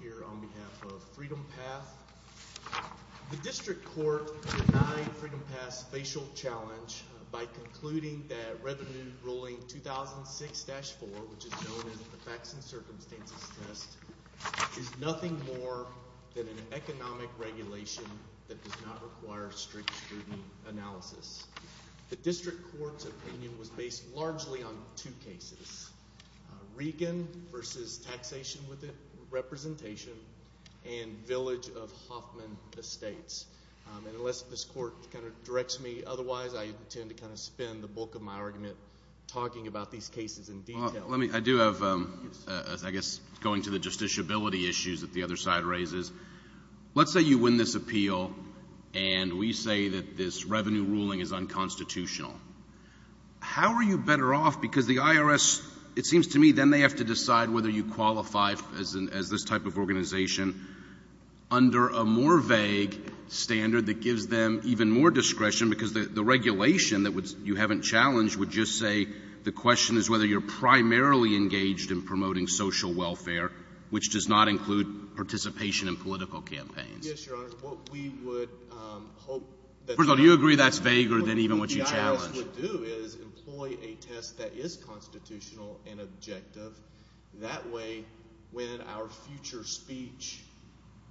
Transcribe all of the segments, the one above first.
here on behalf of Freedom Path. The District Court denied Freedom Path's facial challenge by concluding that Revenue Ruling 2006-4, which is known as the Facts and Circumstances Test, is nothing more than an economic regulation that does not require strict scrutiny analysis. The District Court's opinion was based largely on two cases, Regan v. Taxation with Representation and Village of Hoffman Estates, and unless this Court kind of directs me otherwise, I intend to kind of spend the bulk of my argument talking about these cases in detail. I do have, I guess going to the justiciability issues that the other side raises, let's say you win this appeal and we say that this revenue ruling is unconstitutional. How are you better off? Because the IRS, it seems to me, then they have to decide whether you qualify as this type of organization under a more vague standard that gives them even more discretion, because the regulation that you haven't challenged would just say the question is whether you're primarily engaged in promoting social welfare, which does not include participation in political campaigns. Yes, Your Honor. What we would hope that's not true. First of all, do you agree that's vaguer than even what you challenged? What we would do is employ a test that is constitutional and objective. That way, when our future speech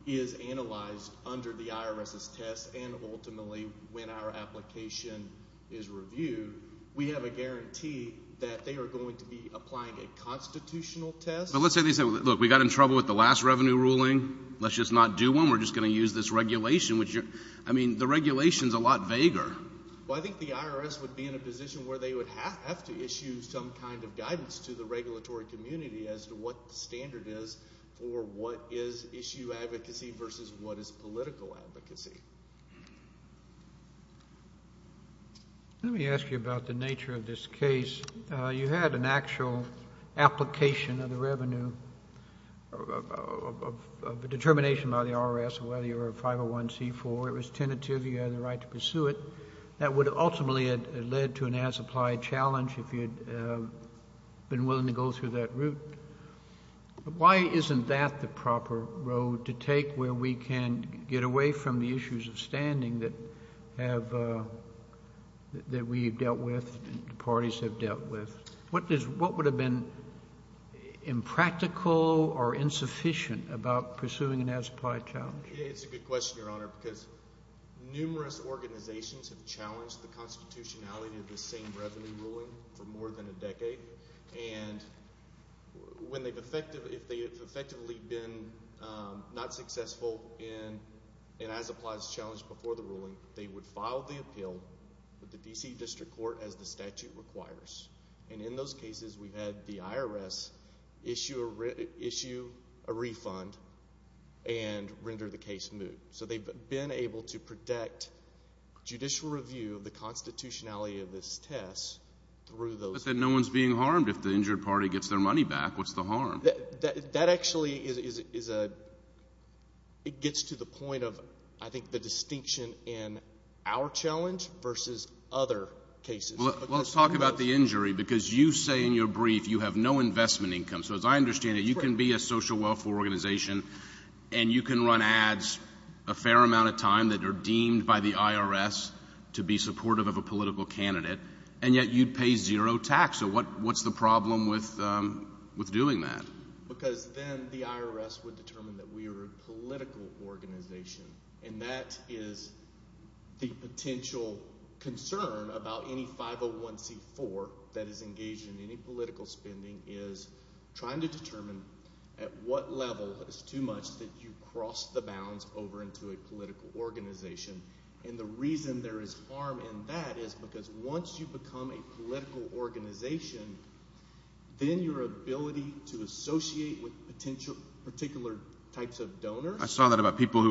is analyzed under the IRS's test and ultimately when our application is reviewed, we have a guarantee that they are going to be applying a constitutional test. But let's say they say, look, we got in trouble with the last revenue ruling. Let's just not do one. We're just going to use this regulation, which, I mean, the regulation's a lot vaguer. Well, I think the IRS would be in a position where they would have to issue some kind of guidance to the regulatory community as to what the standard is for what is issue advocacy versus what is political advocacy. Let me ask you about the nature of this case. You had an actual application of the revenue of the determination by the IRS of whether you were a 501c4. It was tentative. You had the right to pursue it. That would ultimately have led to an as-applied challenge if you'd been willing to go through that route. Why isn't that the proper road to take where we can get away from the issues of standing that we've dealt with, the parties have dealt with? What would have been impractical or insufficient about pursuing an as-applied challenge? It's a good question, Your Honor, because numerous organizations have challenged the constitutionality of the same revenue ruling for more than a decade. When they've effectively been not successful in an as-applied challenge before the ruling, they would file the appeal with the D.C. District Court as the statute requires. In those cases, we've had the IRS issue a refund and render the case moot. They've been able to protect judicial review of the constitutionality of this test through those... No one's being harmed if the injured party gets their money back. What's the harm? That actually gets to the point of, I think, the distinction in our challenge versus other cases. Let's talk about the injury because you say in your brief you have no investment income. So as I understand it, you can be a social welfare organization and you can run ads a fair amount of time that are deemed by the IRS to be supportive of a political candidate, and yet you'd pay zero tax. So what's the problem with doing that? Because then the IRS would determine that we are a political organization and that is the potential concern about any 501c4 that is engaged in any political spending is trying to determine at what level is too much that you cross the bounds over into a political organization. And the reason there is harm in that is because once you become a political organization, then your ability to associate with potential particular types of donors... Is there anything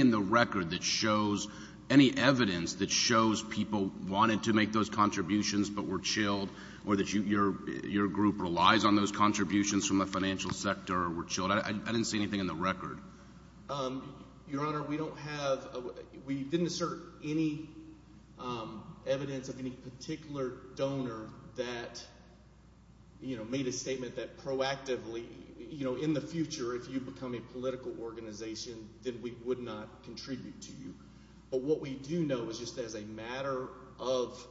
in the record that shows any evidence that shows people wanted to make those contributions but were chilled or that your group relies on those contributions from the financial sector or were chilled? I didn't see anything in the record. Your Honor, we didn't assert any evidence of any particular donor that made a statement that you know, in the future, if you become a political organization, then we would not contribute to you. But what we do know is just as a matter of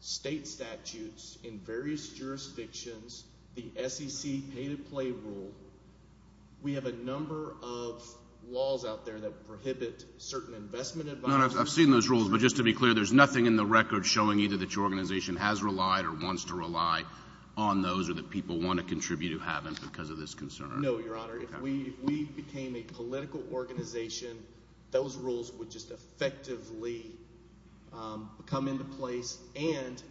state statutes in various jurisdictions, the SEC pay to play rule, we have a number of laws out there that prohibit certain investment... Your Honor, I've seen those rules, but just to be clear, there's nothing in the record showing either that your organization has relied or wants to rely on those or that people want to contribute who haven't because of this concern. No, Your Honor. If we became a political organization, those rules would just effectively come into place and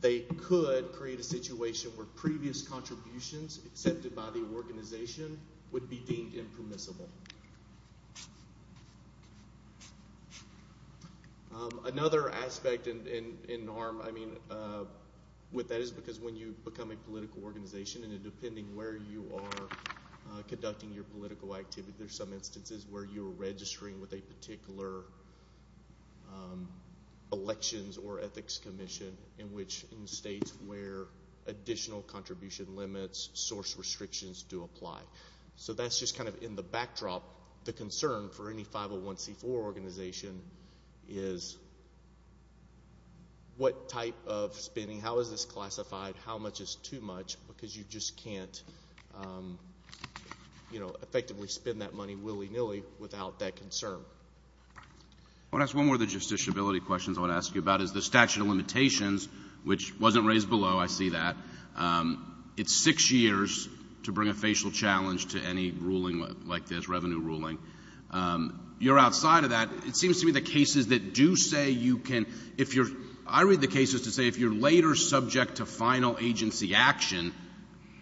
they could create a situation where previous contributions accepted by the organization would be deemed impermissible. Another aspect in harm, I mean, with that is because when you become a political organization and depending where you are conducting your political activity, there's some instances where you're registering with a particular elections or ethics commission in states where additional contribution limits, source restrictions do apply. So that's just kind of in the backdrop. The concern for any 501c4 organization is what type of spending, how is this classified, how much is too much, because you just can't, you know, effectively spend that money willy-nilly without that concern. I want to ask one more of the justiciability questions I want to ask you about is the statute of limitations, which wasn't raised below, I see that. It's six years to bring a facial challenge to any ruling like this, revenue ruling. You're outside of that. It seems to me the cases that do say you can, if you're, I read the cases to say if you're later subject to final agency action,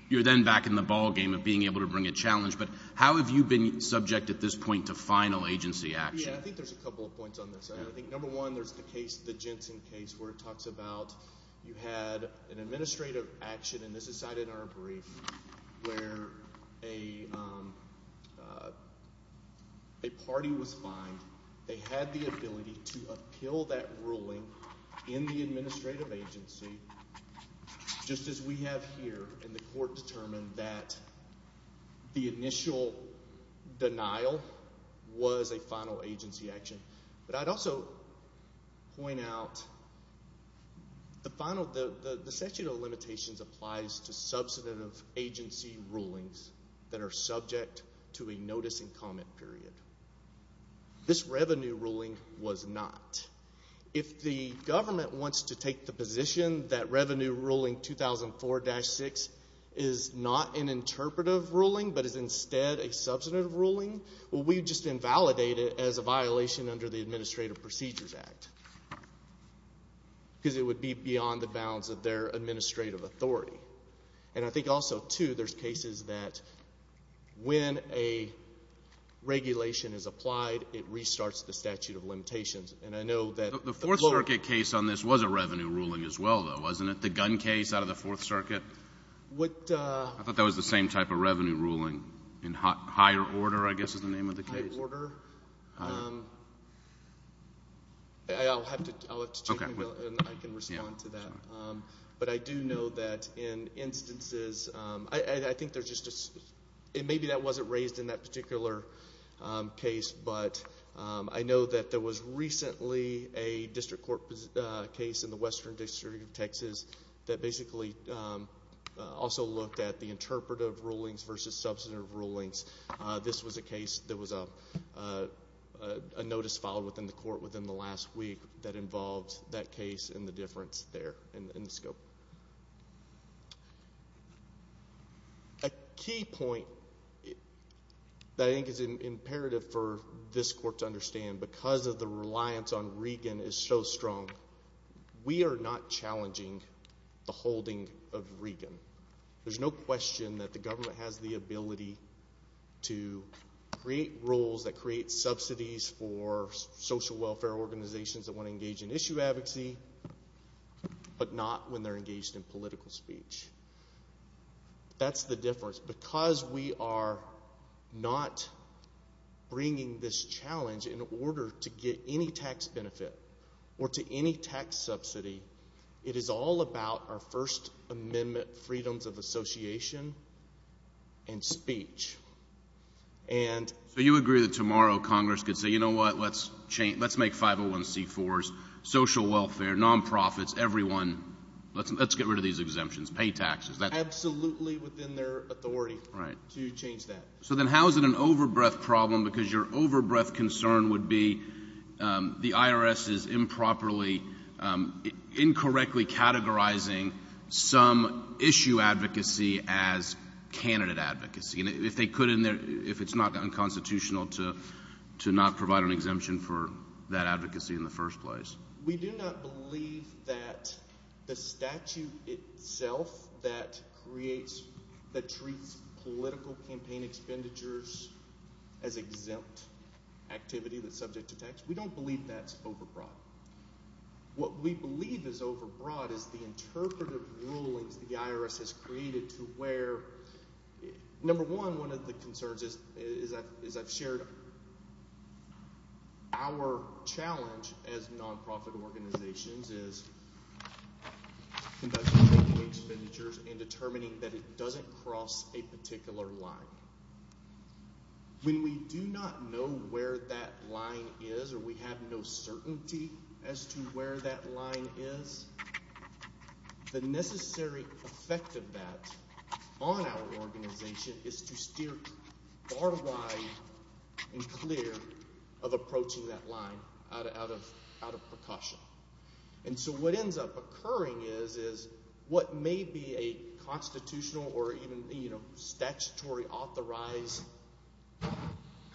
you're then back in the ballgame of being able to bring a challenge, but how have you been subject at this point to final agency action? Yeah, I think there's a couple of points on this. I think number one, there's the case, the Jensen case, where it talks about you had an administrative action, and this is cited in our brief, where a party was fined, they had the ability to appeal that ruling in the administrative agency, just as we have here, and the court determined that the initial denial was a final agency action, but I'd also point out the final, the statute of limitations applies to substantive agency rulings that are subject to a notice and comment period. This revenue ruling was not. If the government wants to take the position that revenue ruling 2004-6 is not an interpretive ruling, but is instead a substantive ruling, well, we just invalidate it as a violation under the Administrative Procedures Act, because it would be beyond the bounds of their administrative authority, and I think also, too, there's cases that when a regulation is applied, it restarts the statute of limitations, and I know that the court... The Fourth Circuit case on this was a revenue ruling as well, though, wasn't it? The gun case out of the Fourth Circuit? I thought that was the same type of revenue ruling, in higher order, I guess is the name of the case. Higher order. I'll have instances. I think there's just... Maybe that wasn't raised in that particular case, but I know that there was recently a district court case in the Western District of Texas that basically also looked at the interpretive rulings versus substantive rulings. This was a case that was a notice filed within the court within the last week that involved that case and the difference there in the scope. A key point that I think is imperative for this court to understand, because of the reliance on Regan is so strong, we are not challenging the holding of Regan. There's no question that the government has the ability to create rules that create subsidies for social welfare organizations that want to engage in issue advocacy, but not when they're engaged in political speech. That's the difference. Because we are not bringing this challenge in order to get any tax benefit or to any tax subsidy, it is all about our First Amendment freedoms of association and speech. So you agree that tomorrow Congress could say, you know what, let's make 501c4s, social welfare, non-profits, everyone, let's get rid of these exemptions, pay taxes. Absolutely within their authority to change that. So then how is it an overbreath problem? Because your overbreath concern would be the IRS is improperly, incorrectly categorizing some issue advocacy as candidate advocacy. And if they could in there, if it's not unconstitutional to not provide an exemption for that advocacy in the first place. We do not believe that the statute itself that creates, that treats political campaign expenditures as exempt activity that's subject to tax, we don't believe that's overbroad. What we believe is overbroad is the interpretive of our challenge as non-profit organizations is conducting expenditures and determining that it doesn't cross a particular line. When we do not know where that line is or we have no certainty as to where that line is, the necessary effect of that on our organization is to steer far wide and clear of approaching that line out of percussion. And so what ends up occurring is, is what may be a constitutional or even you know statutory authorized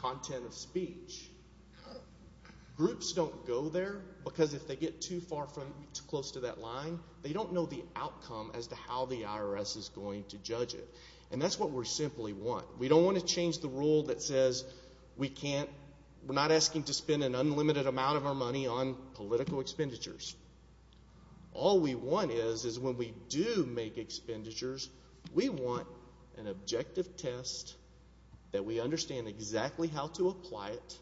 content of speech. Groups don't go there because if they get too far from, too close to that line, they don't know the outcome as to how the IRS is going to judge it. And that's what we simply want. We don't want to change the rule that says we can't, we're not asking to spend an unlimited amount of our money on political expenditures. All we want is, is when we do make expenditures, we want an objective test that we understand exactly how to apply it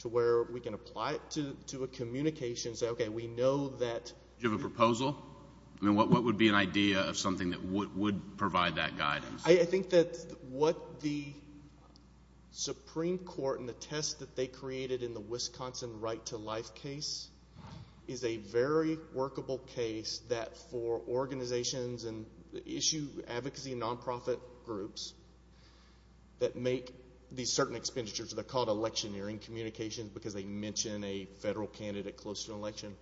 to where we can apply it to a communication, say okay we know that. Do you have a proposal? I mean what would be an idea of something that would provide that guidance? I think that what the Supreme Court and the test that they created in the Wisconsin Right to Life case is a very workable case that for organizations and issue advocacy non-profit groups that make these certain expenditures, they're called electioneering communications because they mention a federal candidate close to an election.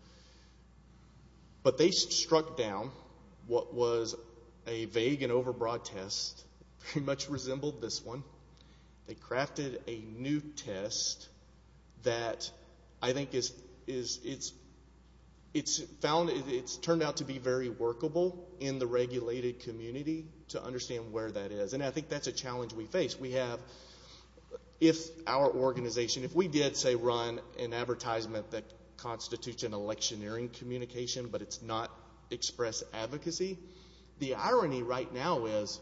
But they struck down what was a vague and overbroad test, pretty much resembled this one. They crafted a new test that I think is, is, it's, it's found, it's turned out to be very workable in the regulated community to understand where that is. And I think that's a challenge we face. We have, if our organization, if we did say run an advertisement that constitutes an electioneering communication, but it's not express advocacy, the irony right now is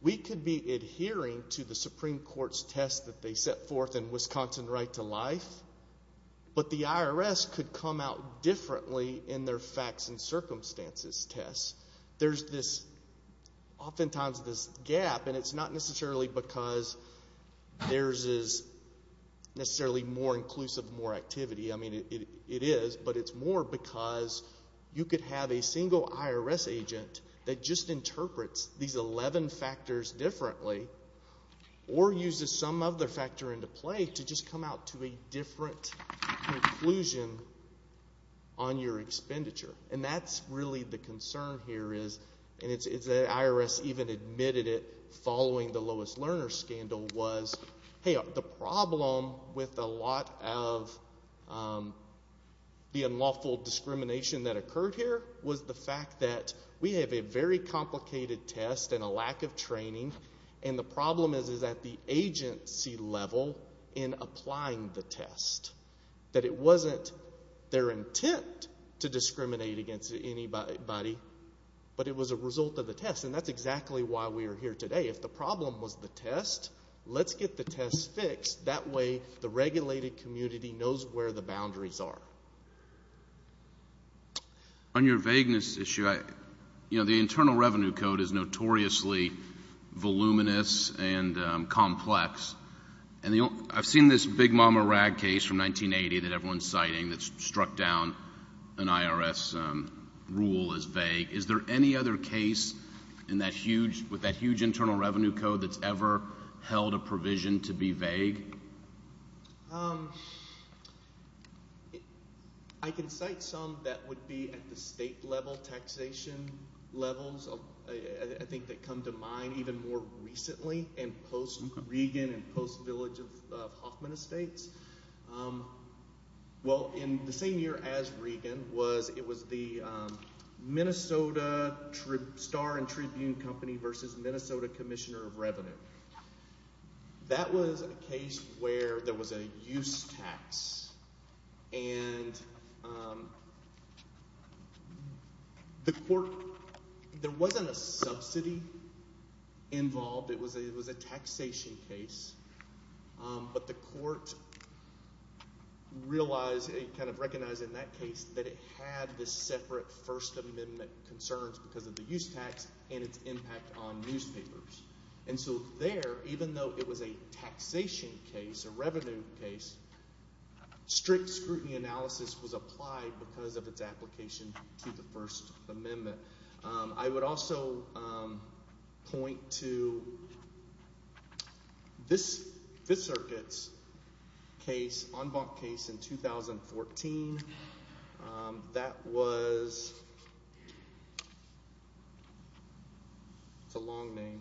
we could be adhering to the Supreme Court's test that they set forth in Wisconsin Right to Life, but the IRS could come out differently in their facts and circumstances tests. There's this, oftentimes this gap, and it's not necessarily because theirs is necessarily more inclusive, more activity. I mean, it, it is, but it's more because you could have a single IRS agent that just interprets these 11 factors differently or uses some other factor into play to just come out to a different conclusion on your expenditure. And that's really the concern here is, and it's, it's, the IRS even admitted it following the Lois Lerner scandal was, hey, the problem with a lot of the unlawful discrimination that occurred here was the fact that we have a very complicated test and a lack of training, and the problem is, is that the agency level in applying the test, that it wasn't their intent to discriminate against anybody, but it was a result of the test. And that's exactly why we are here today. If the problem was the test, let's get the test fixed. That way, the regulated community knows where the boundaries are. So, on your vagueness issue, I, you know, the Internal Revenue Code is notoriously voluminous and complex, and the only, I've seen this big mama rag case from 1980 that everyone's citing that's struck down an IRS rule as vague. Is there any other case in that huge, with that huge Internal Revenue Code that's ever held a provision to be vague? Um, I can cite some that would be at the state level, taxation levels, I think that come to mind even more recently, and post-Reagan and post-Village of Hoffman Estates. Well, in the same year as Reagan was, it was the Minnesota Star and Tribune Company versus Minnesota Commissioner of Revenue. That was a case where there was a use tax, and the court, there wasn't a subsidy involved, it was a taxation case, but the court realized, kind of recognized in that case that it had this separate First Amendment concerns because of the use tax and its impact on newspapers. And so there, even though it was a taxation case, a revenue case, strict scrutiny analysis was applied because of its application to the First Amendment. I would also point to this Fifth Circuit's case, en banc case in 2014, that was, it's a long name,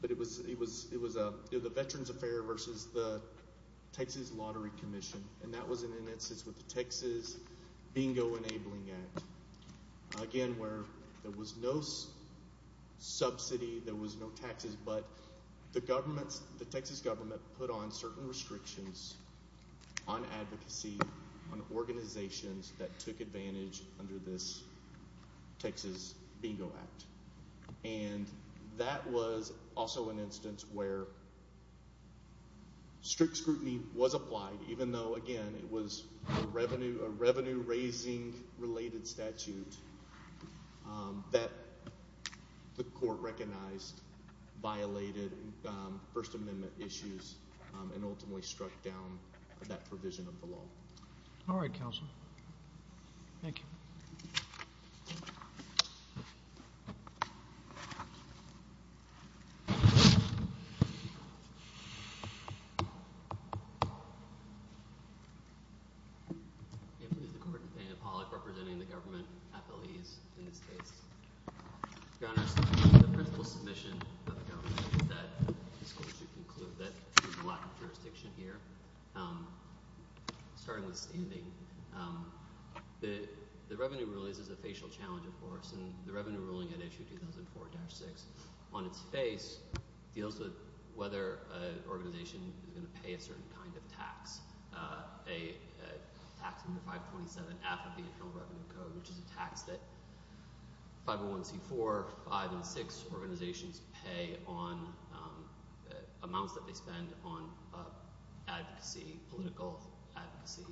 but it was, it was, it was a Veterans Affair versus the Texas Lottery Commission, and that was in an instance with the Texas Bingo Enabling Act. Again, where there was no subsidy, there was no taxes, but the government, the Texas government put on certain restrictions on advocacy, on organizations that took advantage under this Texas Bingo Act. And that was also an instance where strict scrutiny was applied, even though, again, it was a revenue, raising-related statute that the court recognized violated First Amendment issues and ultimately struck down that provision of the law. All right, counsel. Thank you. Representing the government, FLEs, in this case. Your Honor, the principal submission of the government is that this court should conclude that there's a lack of jurisdiction here, starting with standing. The revenue rule is a facial challenge, of course, and the revenue ruling at issue 2004-6, on its face, deals with whether an organization is going to pay a certain kind of tax, a tax under 527F of the Internal Revenue Code, which is a tax that 501c4, 5, and 6 organizations pay on amounts that they spend on advocacy, political advocacy,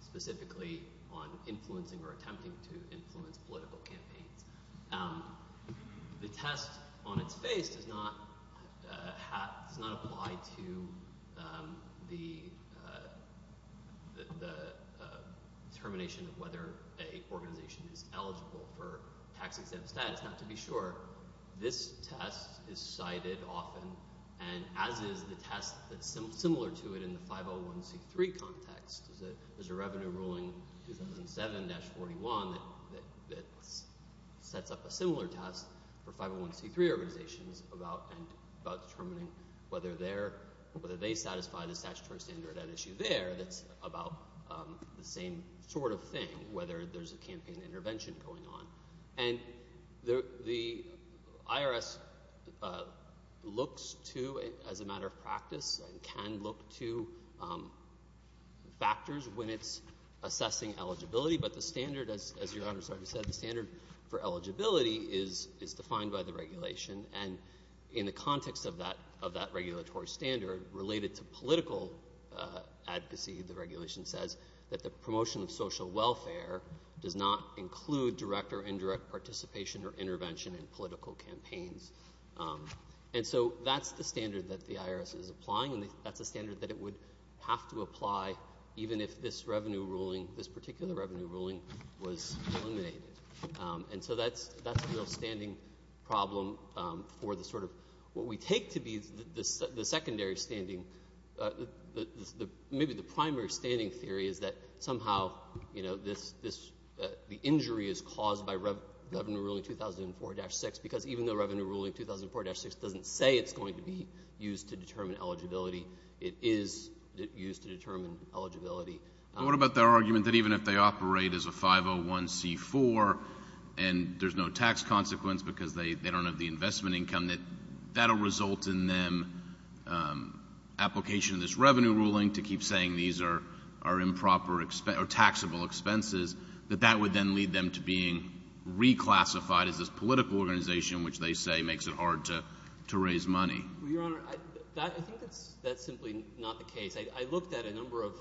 specifically on influencing or attempting to influence political campaigns. The test on its face does not apply to the determination of whether a organization is eligible for tax-exempt status. Now, to be sure, this test is cited often, and as is the test that's similar to it in the 501c3 context. There's a revenue ruling in 2007-41 that sets up a similar test for 501c3 organizations about determining whether they satisfy the statutory standard at issue there that's about the same sort of thing, whether there's a campaign intervention going on. And the IRS looks to, as a matter of practice, and can look to factors when assessing eligibility. But the standard, as Your Honor said, the standard for eligibility is defined by the regulation. And in the context of that regulatory standard, related to political advocacy, the regulation says that the promotion of social welfare does not include direct or indirect participation or intervention in political campaigns. And so that's the standard that the this particular revenue ruling was eliminated. And so that's a real standing problem for what we take to be the secondary standing. Maybe the primary standing theory is that somehow the injury is caused by Revenue Ruling 2004-6, because even though Revenue Ruling 2004-6 doesn't say it's going to be used to determine eligibility, it is used to determine eligibility. What about their argument that even if they operate as a 501c4 and there's no tax consequence because they don't have the investment income, that that'll result in them application of this Revenue Ruling to keep saying these are improper or taxable expenses, that that would then lead them to being reclassified as this political organization, which they say makes it hard to raise money? Your Honor, I think that's simply not the case. I looked at a number of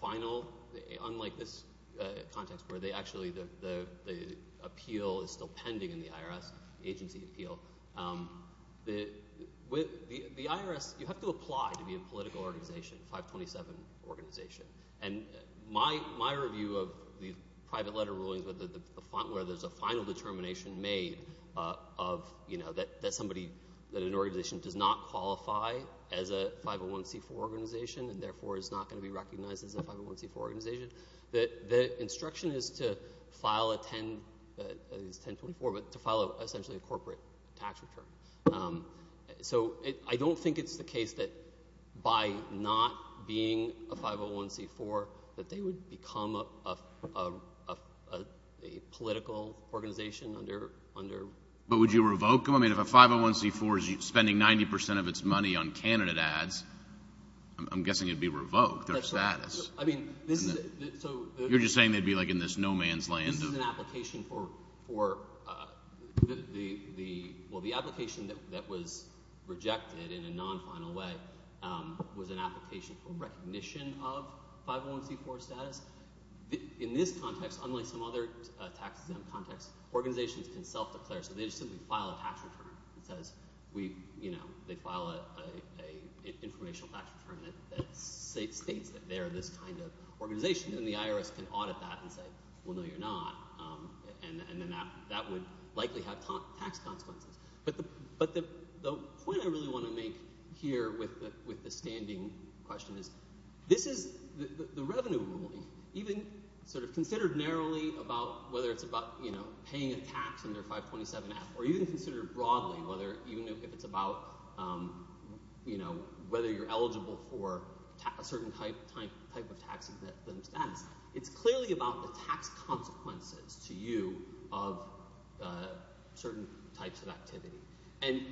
final, unlike this context where they actually, the appeal is still pending in the IRS agency appeal. The IRS, you have to apply to be a political organization, 527 organization. And my review of the private letter rulings where there's a final determination made of that somebody, that an organization does not qualify as a 501c4 organization and therefore is not going to be recognized as a 501c4 organization, the instruction is to file a 1024, but to file essentially a corporate tax return. So I don't think it's the case that by not being a 501c4, that they would become a political organization under. But would you revoke them? I mean, if a 501c4 is spending 90% of its money on candidate ads, I'm guessing it'd be revoked their status. I mean, you're just saying they'd be like in this no man's land. This is an application for, well, the application that was rejected in a non-final way was an application for recognition of 501c4 status. In this context, unlike some other tax exempt contexts, organizations can self-declare. So they just simply file a tax return that says, they file an informational tax return that states that they're this kind of organization. And the IRS can audit that and say, well, no, you're not. And then that would likely have tax consequences. But the point I really want to make here with the standing question is, this is the revenue ruling, even sort of considered narrowly about whether it's about paying a tax under 527F, or even considered broadly, whether you're eligible for a certain type of tax exempt status. It's clearly about the tax consequences to you of certain types of activity. And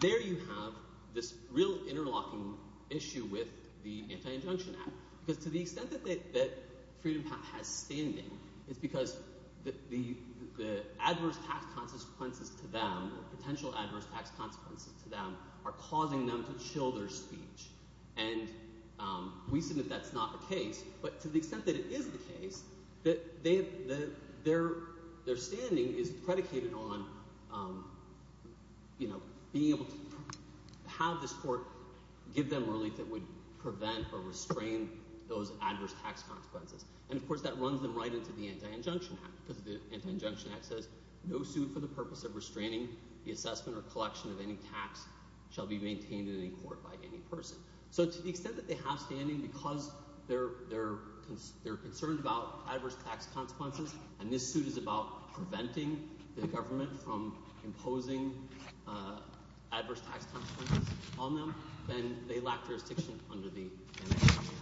there you have this real interlocking issue with the Anti-Injunction Act. Because to the extent that Freedom Path has standing, it's because the adverse tax consequences to them, or potential adverse tax consequences to them, are causing them to chill their speech. And we submit that's not the case. But to the extent that it is the case, their standing is predicated on being able to have this court give them relief that would prevent or restrain those adverse tax consequences. And of course, that runs them right into the Anti-Injunction Act. Because the Anti-Injunction Act says, no suit for the purpose of restraining the assessment or collection of any tax shall be maintained in any court by any concerned about adverse tax consequences. And this suit is about preventing the government from imposing adverse tax consequences on them, then they lack jurisdiction under the Anti-Injunction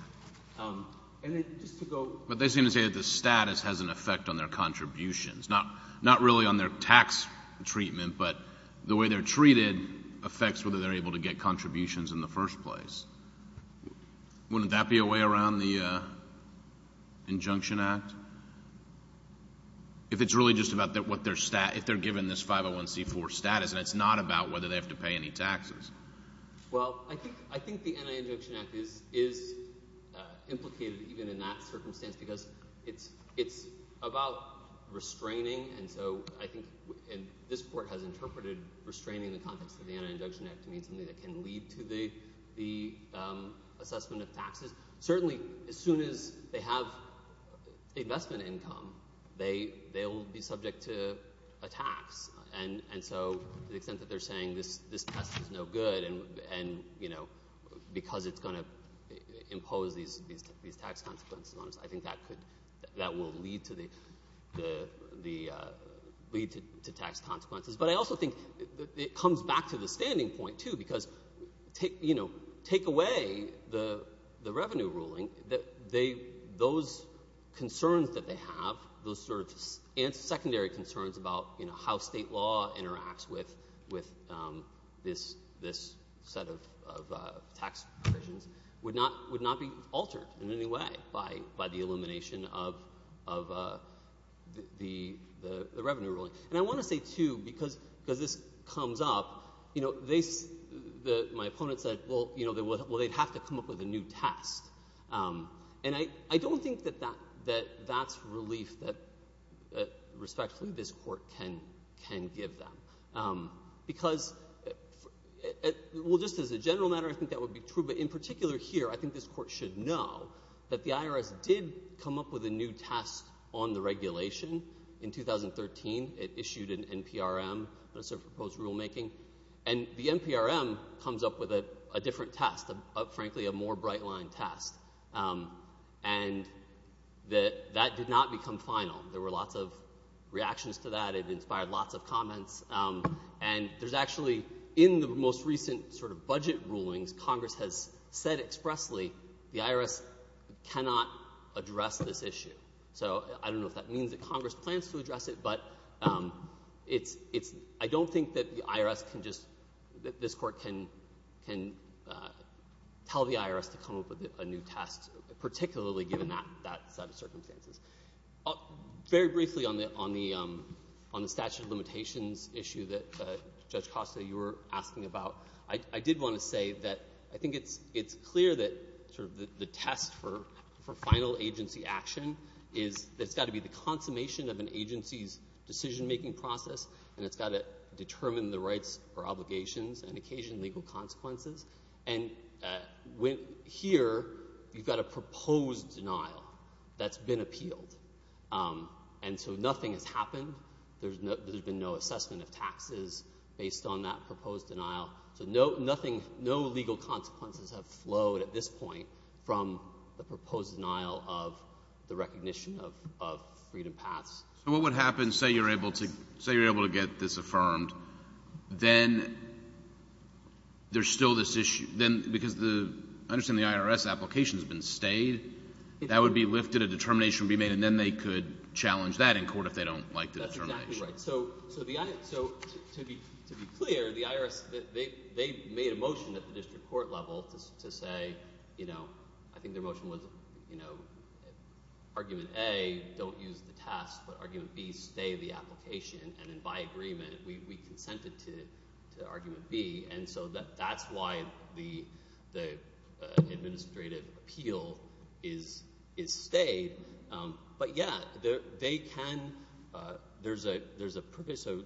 Act. And then just to go... But they seem to say that the status has an effect on their contributions, not really on their tax treatment, but the way they're treated affects whether they're able to pass the Anti-Injunction Act. If it's really just about what their status, if they're given this 501c4 status, and it's not about whether they have to pay any taxes. Well, I think the Anti-Injunction Act is implicated even in that circumstance, because it's about restraining. And so I think this court has interpreted restraining in the context of the Anti-Injunction Act to mean something that can lead to the assessment of taxes. Certainly, as soon as they have investment income, they'll be subject to a tax. And so the extent that they're saying this test is no good, and because it's going to impose these tax consequences on us, I think that will lead to tax consequences. But I also think it comes back to the standing point, too, because take away the revenue ruling, those concerns that they have, those secondary concerns about how state law interacts with this set of tax provisions, would not be altered in any way by the elimination of the revenue ruling. And I want to say, too, because this comes up, my opponent said, well, they'd have to come up with a new test. And I don't think that that's relief that, respectfully, this court can give them. Because, well, just as a general matter, I think that would be true. But in particular here, I think this court should know that the IRS did come up with a new test on the regulation in 2013. It issued an NPRM, a proposed rulemaking. And the NPRM comes up with a different test, frankly, a more bright-line test. And that did not become final. There were lots of reactions to that. It inspired lots of comments. And there's recent sort of budget rulings, Congress has said expressly, the IRS cannot address this issue. So I don't know if that means that Congress plans to address it, but I don't think that the IRS can just, that this court can tell the IRS to come up with a new test, particularly given that set of circumstances. Very briefly on the statute of limitations issue that, Judge Costa, you were asking about, I did want to say that I think it's clear that sort of the test for final agency action is that it's got to be the consummation of an agency's decision-making process, and it's got to determine the rights or obligations and occasion legal consequences. And here, you've got a proposed denial that's been appealed. And so nothing has happened. There's been no assessment of taxes based on that proposed denial. So nothing, no legal consequences have flowed at this point from the proposed denial of the recognition of Freedom Paths. So what would happen, say you're able to get this affirmed, then there's still this issue. Then, because the, I understand the IRS application has been stayed, that would be lifted, a determination would be made, and then they could challenge that in court if they don't like the determination. So to be clear, the IRS, they made a motion at the district court level to say, I think their motion was argument A, don't use the test, but argument B, stay the application. And then by agreement, we consented to argument B. And so that's why the administrative appeal is stayed. But yeah, they can, there's a purpose. So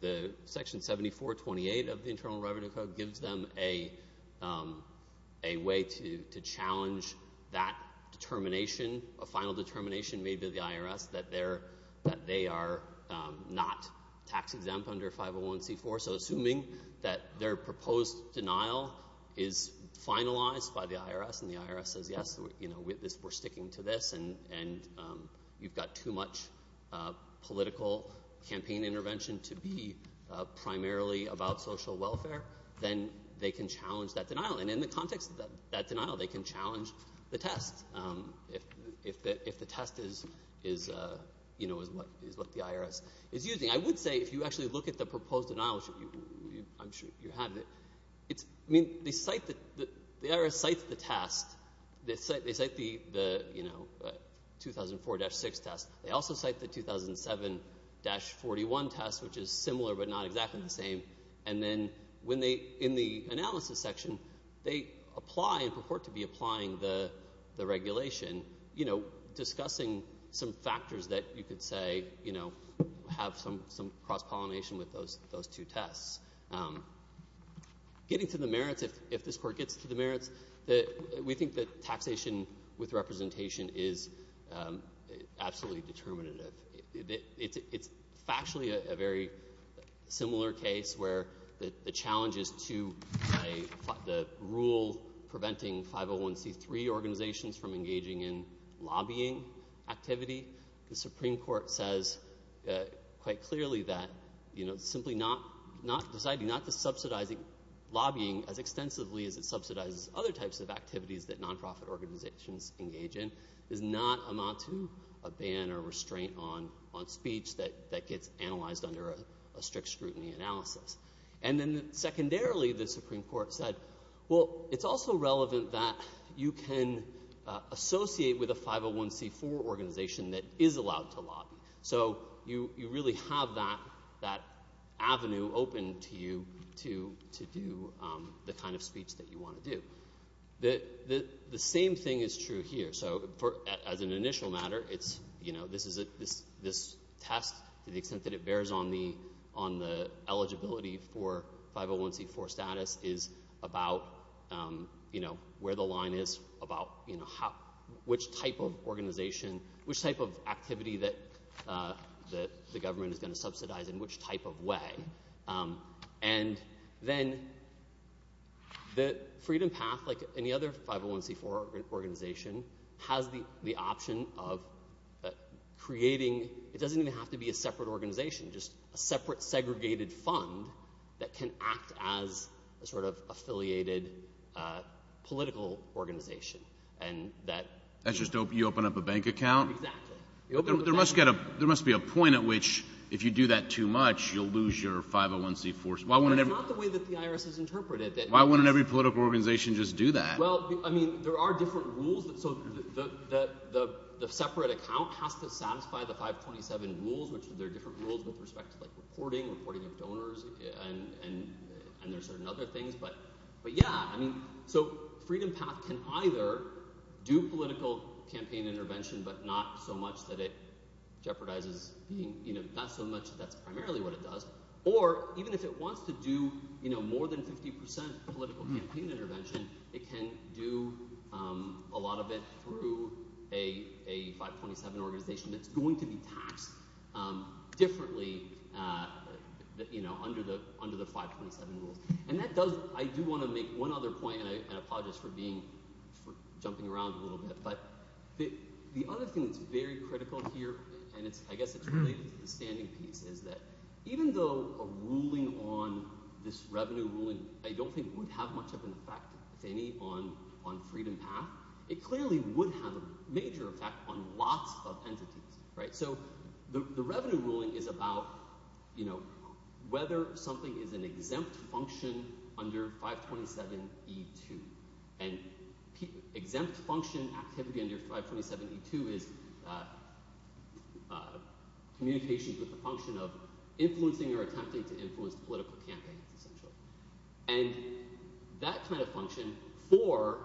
the section 7428 of the Internal Revenue Code gives them a way to challenge that determination, a final determination made to the IRS that they are not tax exempt under 501c4. So assuming that their proposed denial is finalized by the IRS, and the IRS says, yes, we're sticking to this, and you've got too much political campaign intervention to be primarily about social welfare, then they can challenge that denial. And in the context of that denial, they can challenge the test if the test is what the IRS is using. I would say, if you actually look at the proposed denial, I'm sure you have it, it's, I mean, they cite the, the IRS cites the test. They cite the 2004-6 test. They also cite the 2007-41 test, which is similar but not exactly the same. And then when they, in the analysis section, they apply and purport to be applying the regulation, discussing some factors that you could say, you know, have some cross-pollination with those two tests. Getting to the merits, if this Court gets to the merits, we think that taxation with representation is absolutely determinative. It's factually a very similar case where the challenges to the rule preventing 501c3 organizations from engaging in lobbying activity. The Supreme Court says quite clearly that, you know, simply not, deciding not to subsidize lobbying as extensively as it subsidizes other types of activities that nonprofit organizations engage in does not amount to a ban or restraint on speech that gets analyzed under a strict scrutiny analysis. And then secondarily, the Supreme Court said, well, it's also relevant that you can associate with a 501c4 organization that is allowed to lobby. So you, you really have that, that avenue open to you to, to do the kind of speech that you want to do. The, the, the same thing is true here. So for, as an initial matter, it's, you know, this is a, this, this test to the extent that it bears on the, on the eligibility for 501c4 status is about, you know, where the line is about, you know, how, which type of organization, which type of activity that, that the government is going to subsidize in which type of way. And then the Freedom Path, like any other 501c4 organization, has the, the option of creating, it doesn't even have to be a separate organization, just a separate segregated fund that can act as a sort of affiliated political organization. And that... That's just, you open up a bank account? Exactly. There must get a, there must be a point at which if you do that too much, you'll lose your 501c4s. Why wouldn't every... That's not the way that the IRS has interpreted it. Why wouldn't every political organization just do that? Well, I mean, there are different rules that, so the, the, the, the separate account has to satisfy the 527 rules, which there are different rules with respect to like reporting, reporting of donors and, and, and there's certain other things, but, but yeah, I mean, so Freedom Path can either do political campaign intervention, but not so much that it jeopardizes being, you know, not so much, that's primarily what it does. Or even if it wants to do, you know, more than 50% political campaign intervention, it can do a lot of it through a, a 527 organization that's going to be taxed differently, you know, under the, under the 527 rules. And that does, I do want to make one other point, and I apologize for being, for jumping around a little bit, but the other thing that's very critical here, and it's, I guess it's related to the standing piece, is that even though a ruling on, this revenue ruling, I don't think it would have much of an effect, if any, on, on Freedom Path, it clearly would have a major effect on lots of entities, right? So the, the revenue ruling is about, you know, whether something is an exempt function under 527E2, and exempt function activity under 527E2 is communications with the function of influencing or attempting to influence political campaigns, essentially. And that kind of function for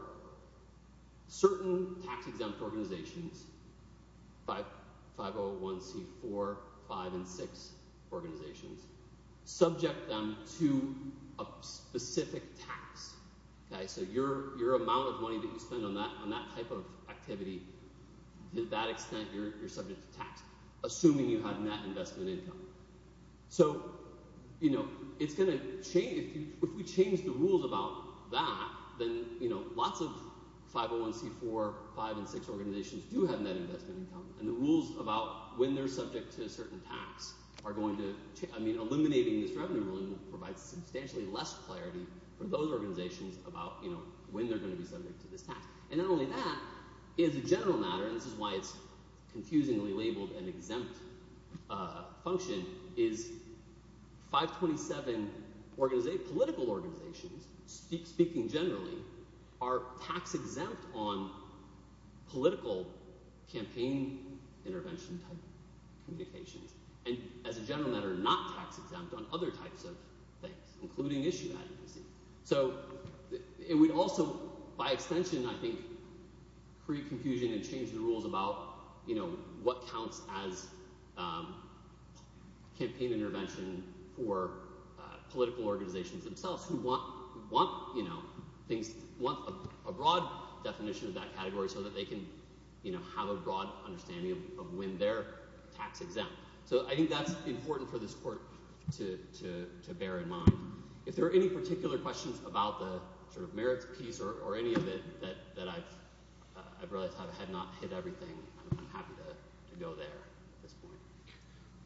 certain tax-exempt organizations, 501C4, 5, and 6 organizations, subject them to a specific tax, okay? So your, your amount of your, your subject to tax, assuming you have net investment income. So, you know, it's going to change, if we change the rules about that, then, you know, lots of 501C4, 5, and 6 organizations do have net investment income, and the rules about when they're subject to a certain tax are going to, I mean, eliminating this revenue ruling will provide substantially less clarity for those organizations about, you know, when they're going to be subject to this tax. And not only that, as a general matter, and this is why it's confusingly labeled an exempt function, is 527 organization, political organizations, speaking generally, are tax-exempt on political campaign intervention type communications, and as a general matter, not tax-exempt on other types of things, including issue advocacy. So it would also, by extension, I think, create confusion and change the rules about, you know, what counts as campaign intervention for political organizations themselves who want, want, you know, things, want a broad definition of that category so that they can, you know, have a broad understanding of when they're tax-exempt. So I think that's important for this If there are any particular questions about the sort of merits piece or any of it that, that I've, I've realized have not hit everything, I'm happy to go there at this point.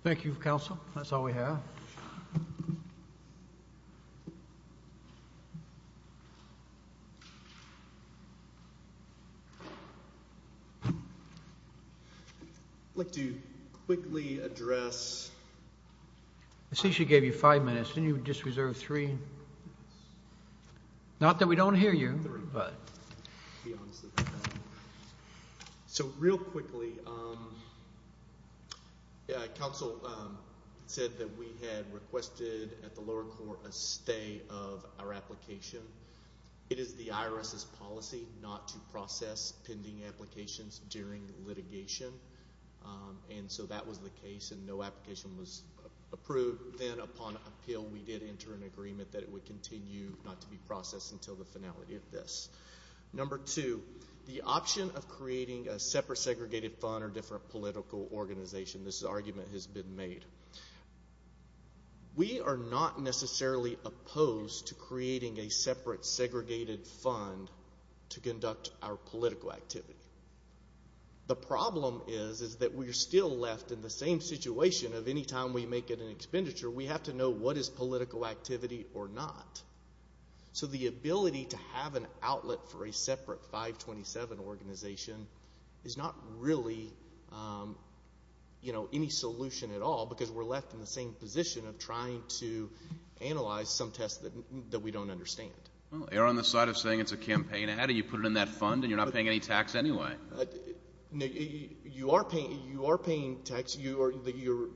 Thank you, counsel. That's all we have. I'd like to quickly address... I see she gave you five minutes, didn't you just reserve three? Not that we don't hear you, but... So real quickly, counsel said that we had requested at the lower court a stay of our application. It is the IRS's policy not to process pending applications during litigation, and so that was the case, and no application was approved. Then upon appeal, we did enter an agreement that it would continue not to be processed until the finality of this. Number two, the option of creating a separate segregated fund or different political organization, this argument has been made. We are not necessarily opposed to creating a separate segregated fund to conduct our political activity. The problem is, is that we're still left in the same situation of any time we make an expenditure, we have to know what is political activity or not. So the ability to have an outlet for a separate 527 organization is not really any solution at all, because we're left in the same position of trying to analyze some tests that we don't understand. Well, err on the side of saying it's a campaign. How do you put it in that fund, and you're not paying any tax anyway? You are paying tax. You're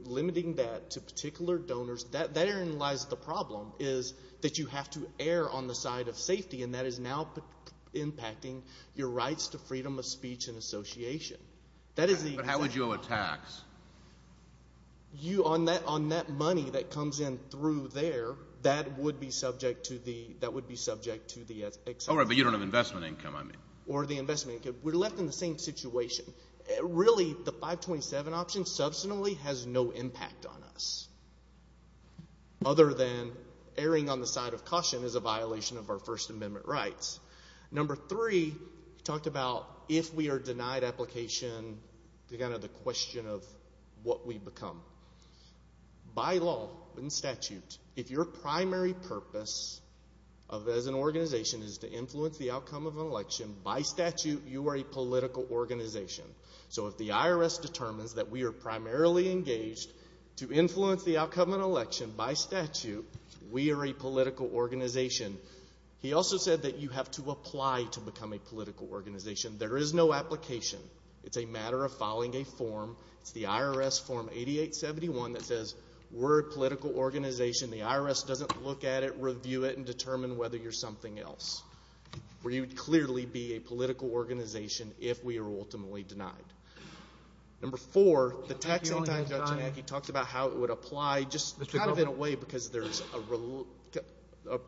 limiting that to particular donors. That therein lies the err on the side of safety, and that is now impacting your rights to freedom of speech and association. That is the exact opposite. But how would you owe a tax? On that money that comes in through there, that would be subject to the excess. All right, but you don't have investment income, I mean. Or the investment income. We're left in the same situation. Really, the 527 option has no impact on us, other than erring on the side of caution is a violation of our First Amendment rights. Number three, we talked about if we are denied application, the question of what we become. By law and statute, if your primary purpose as an organization is to influence the outcome of an election, by statute, you are a political organization. So if the IRS determines that we are primarily engaged to influence the outcome of an election, by statute, we are a political organization. He also said that you have to apply to become a political organization. There is no application. It's a matter of filing a form. It's the IRS form 8871 that says we're a political organization. The IRS doesn't look at it, review it, and determine whether you're something else. Where you'd clearly be a political organization if we are ultimately denied. Number four, the taxing time, Judge Iannacchi, talked about how it would apply, just kind of in a way, because there's a,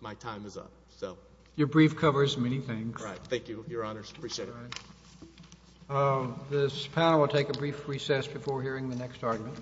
my time is up, so. Your brief covers many things. Right. Thank you, Your Honors. Appreciate it. This panel will take a brief recess before hearing the next argument.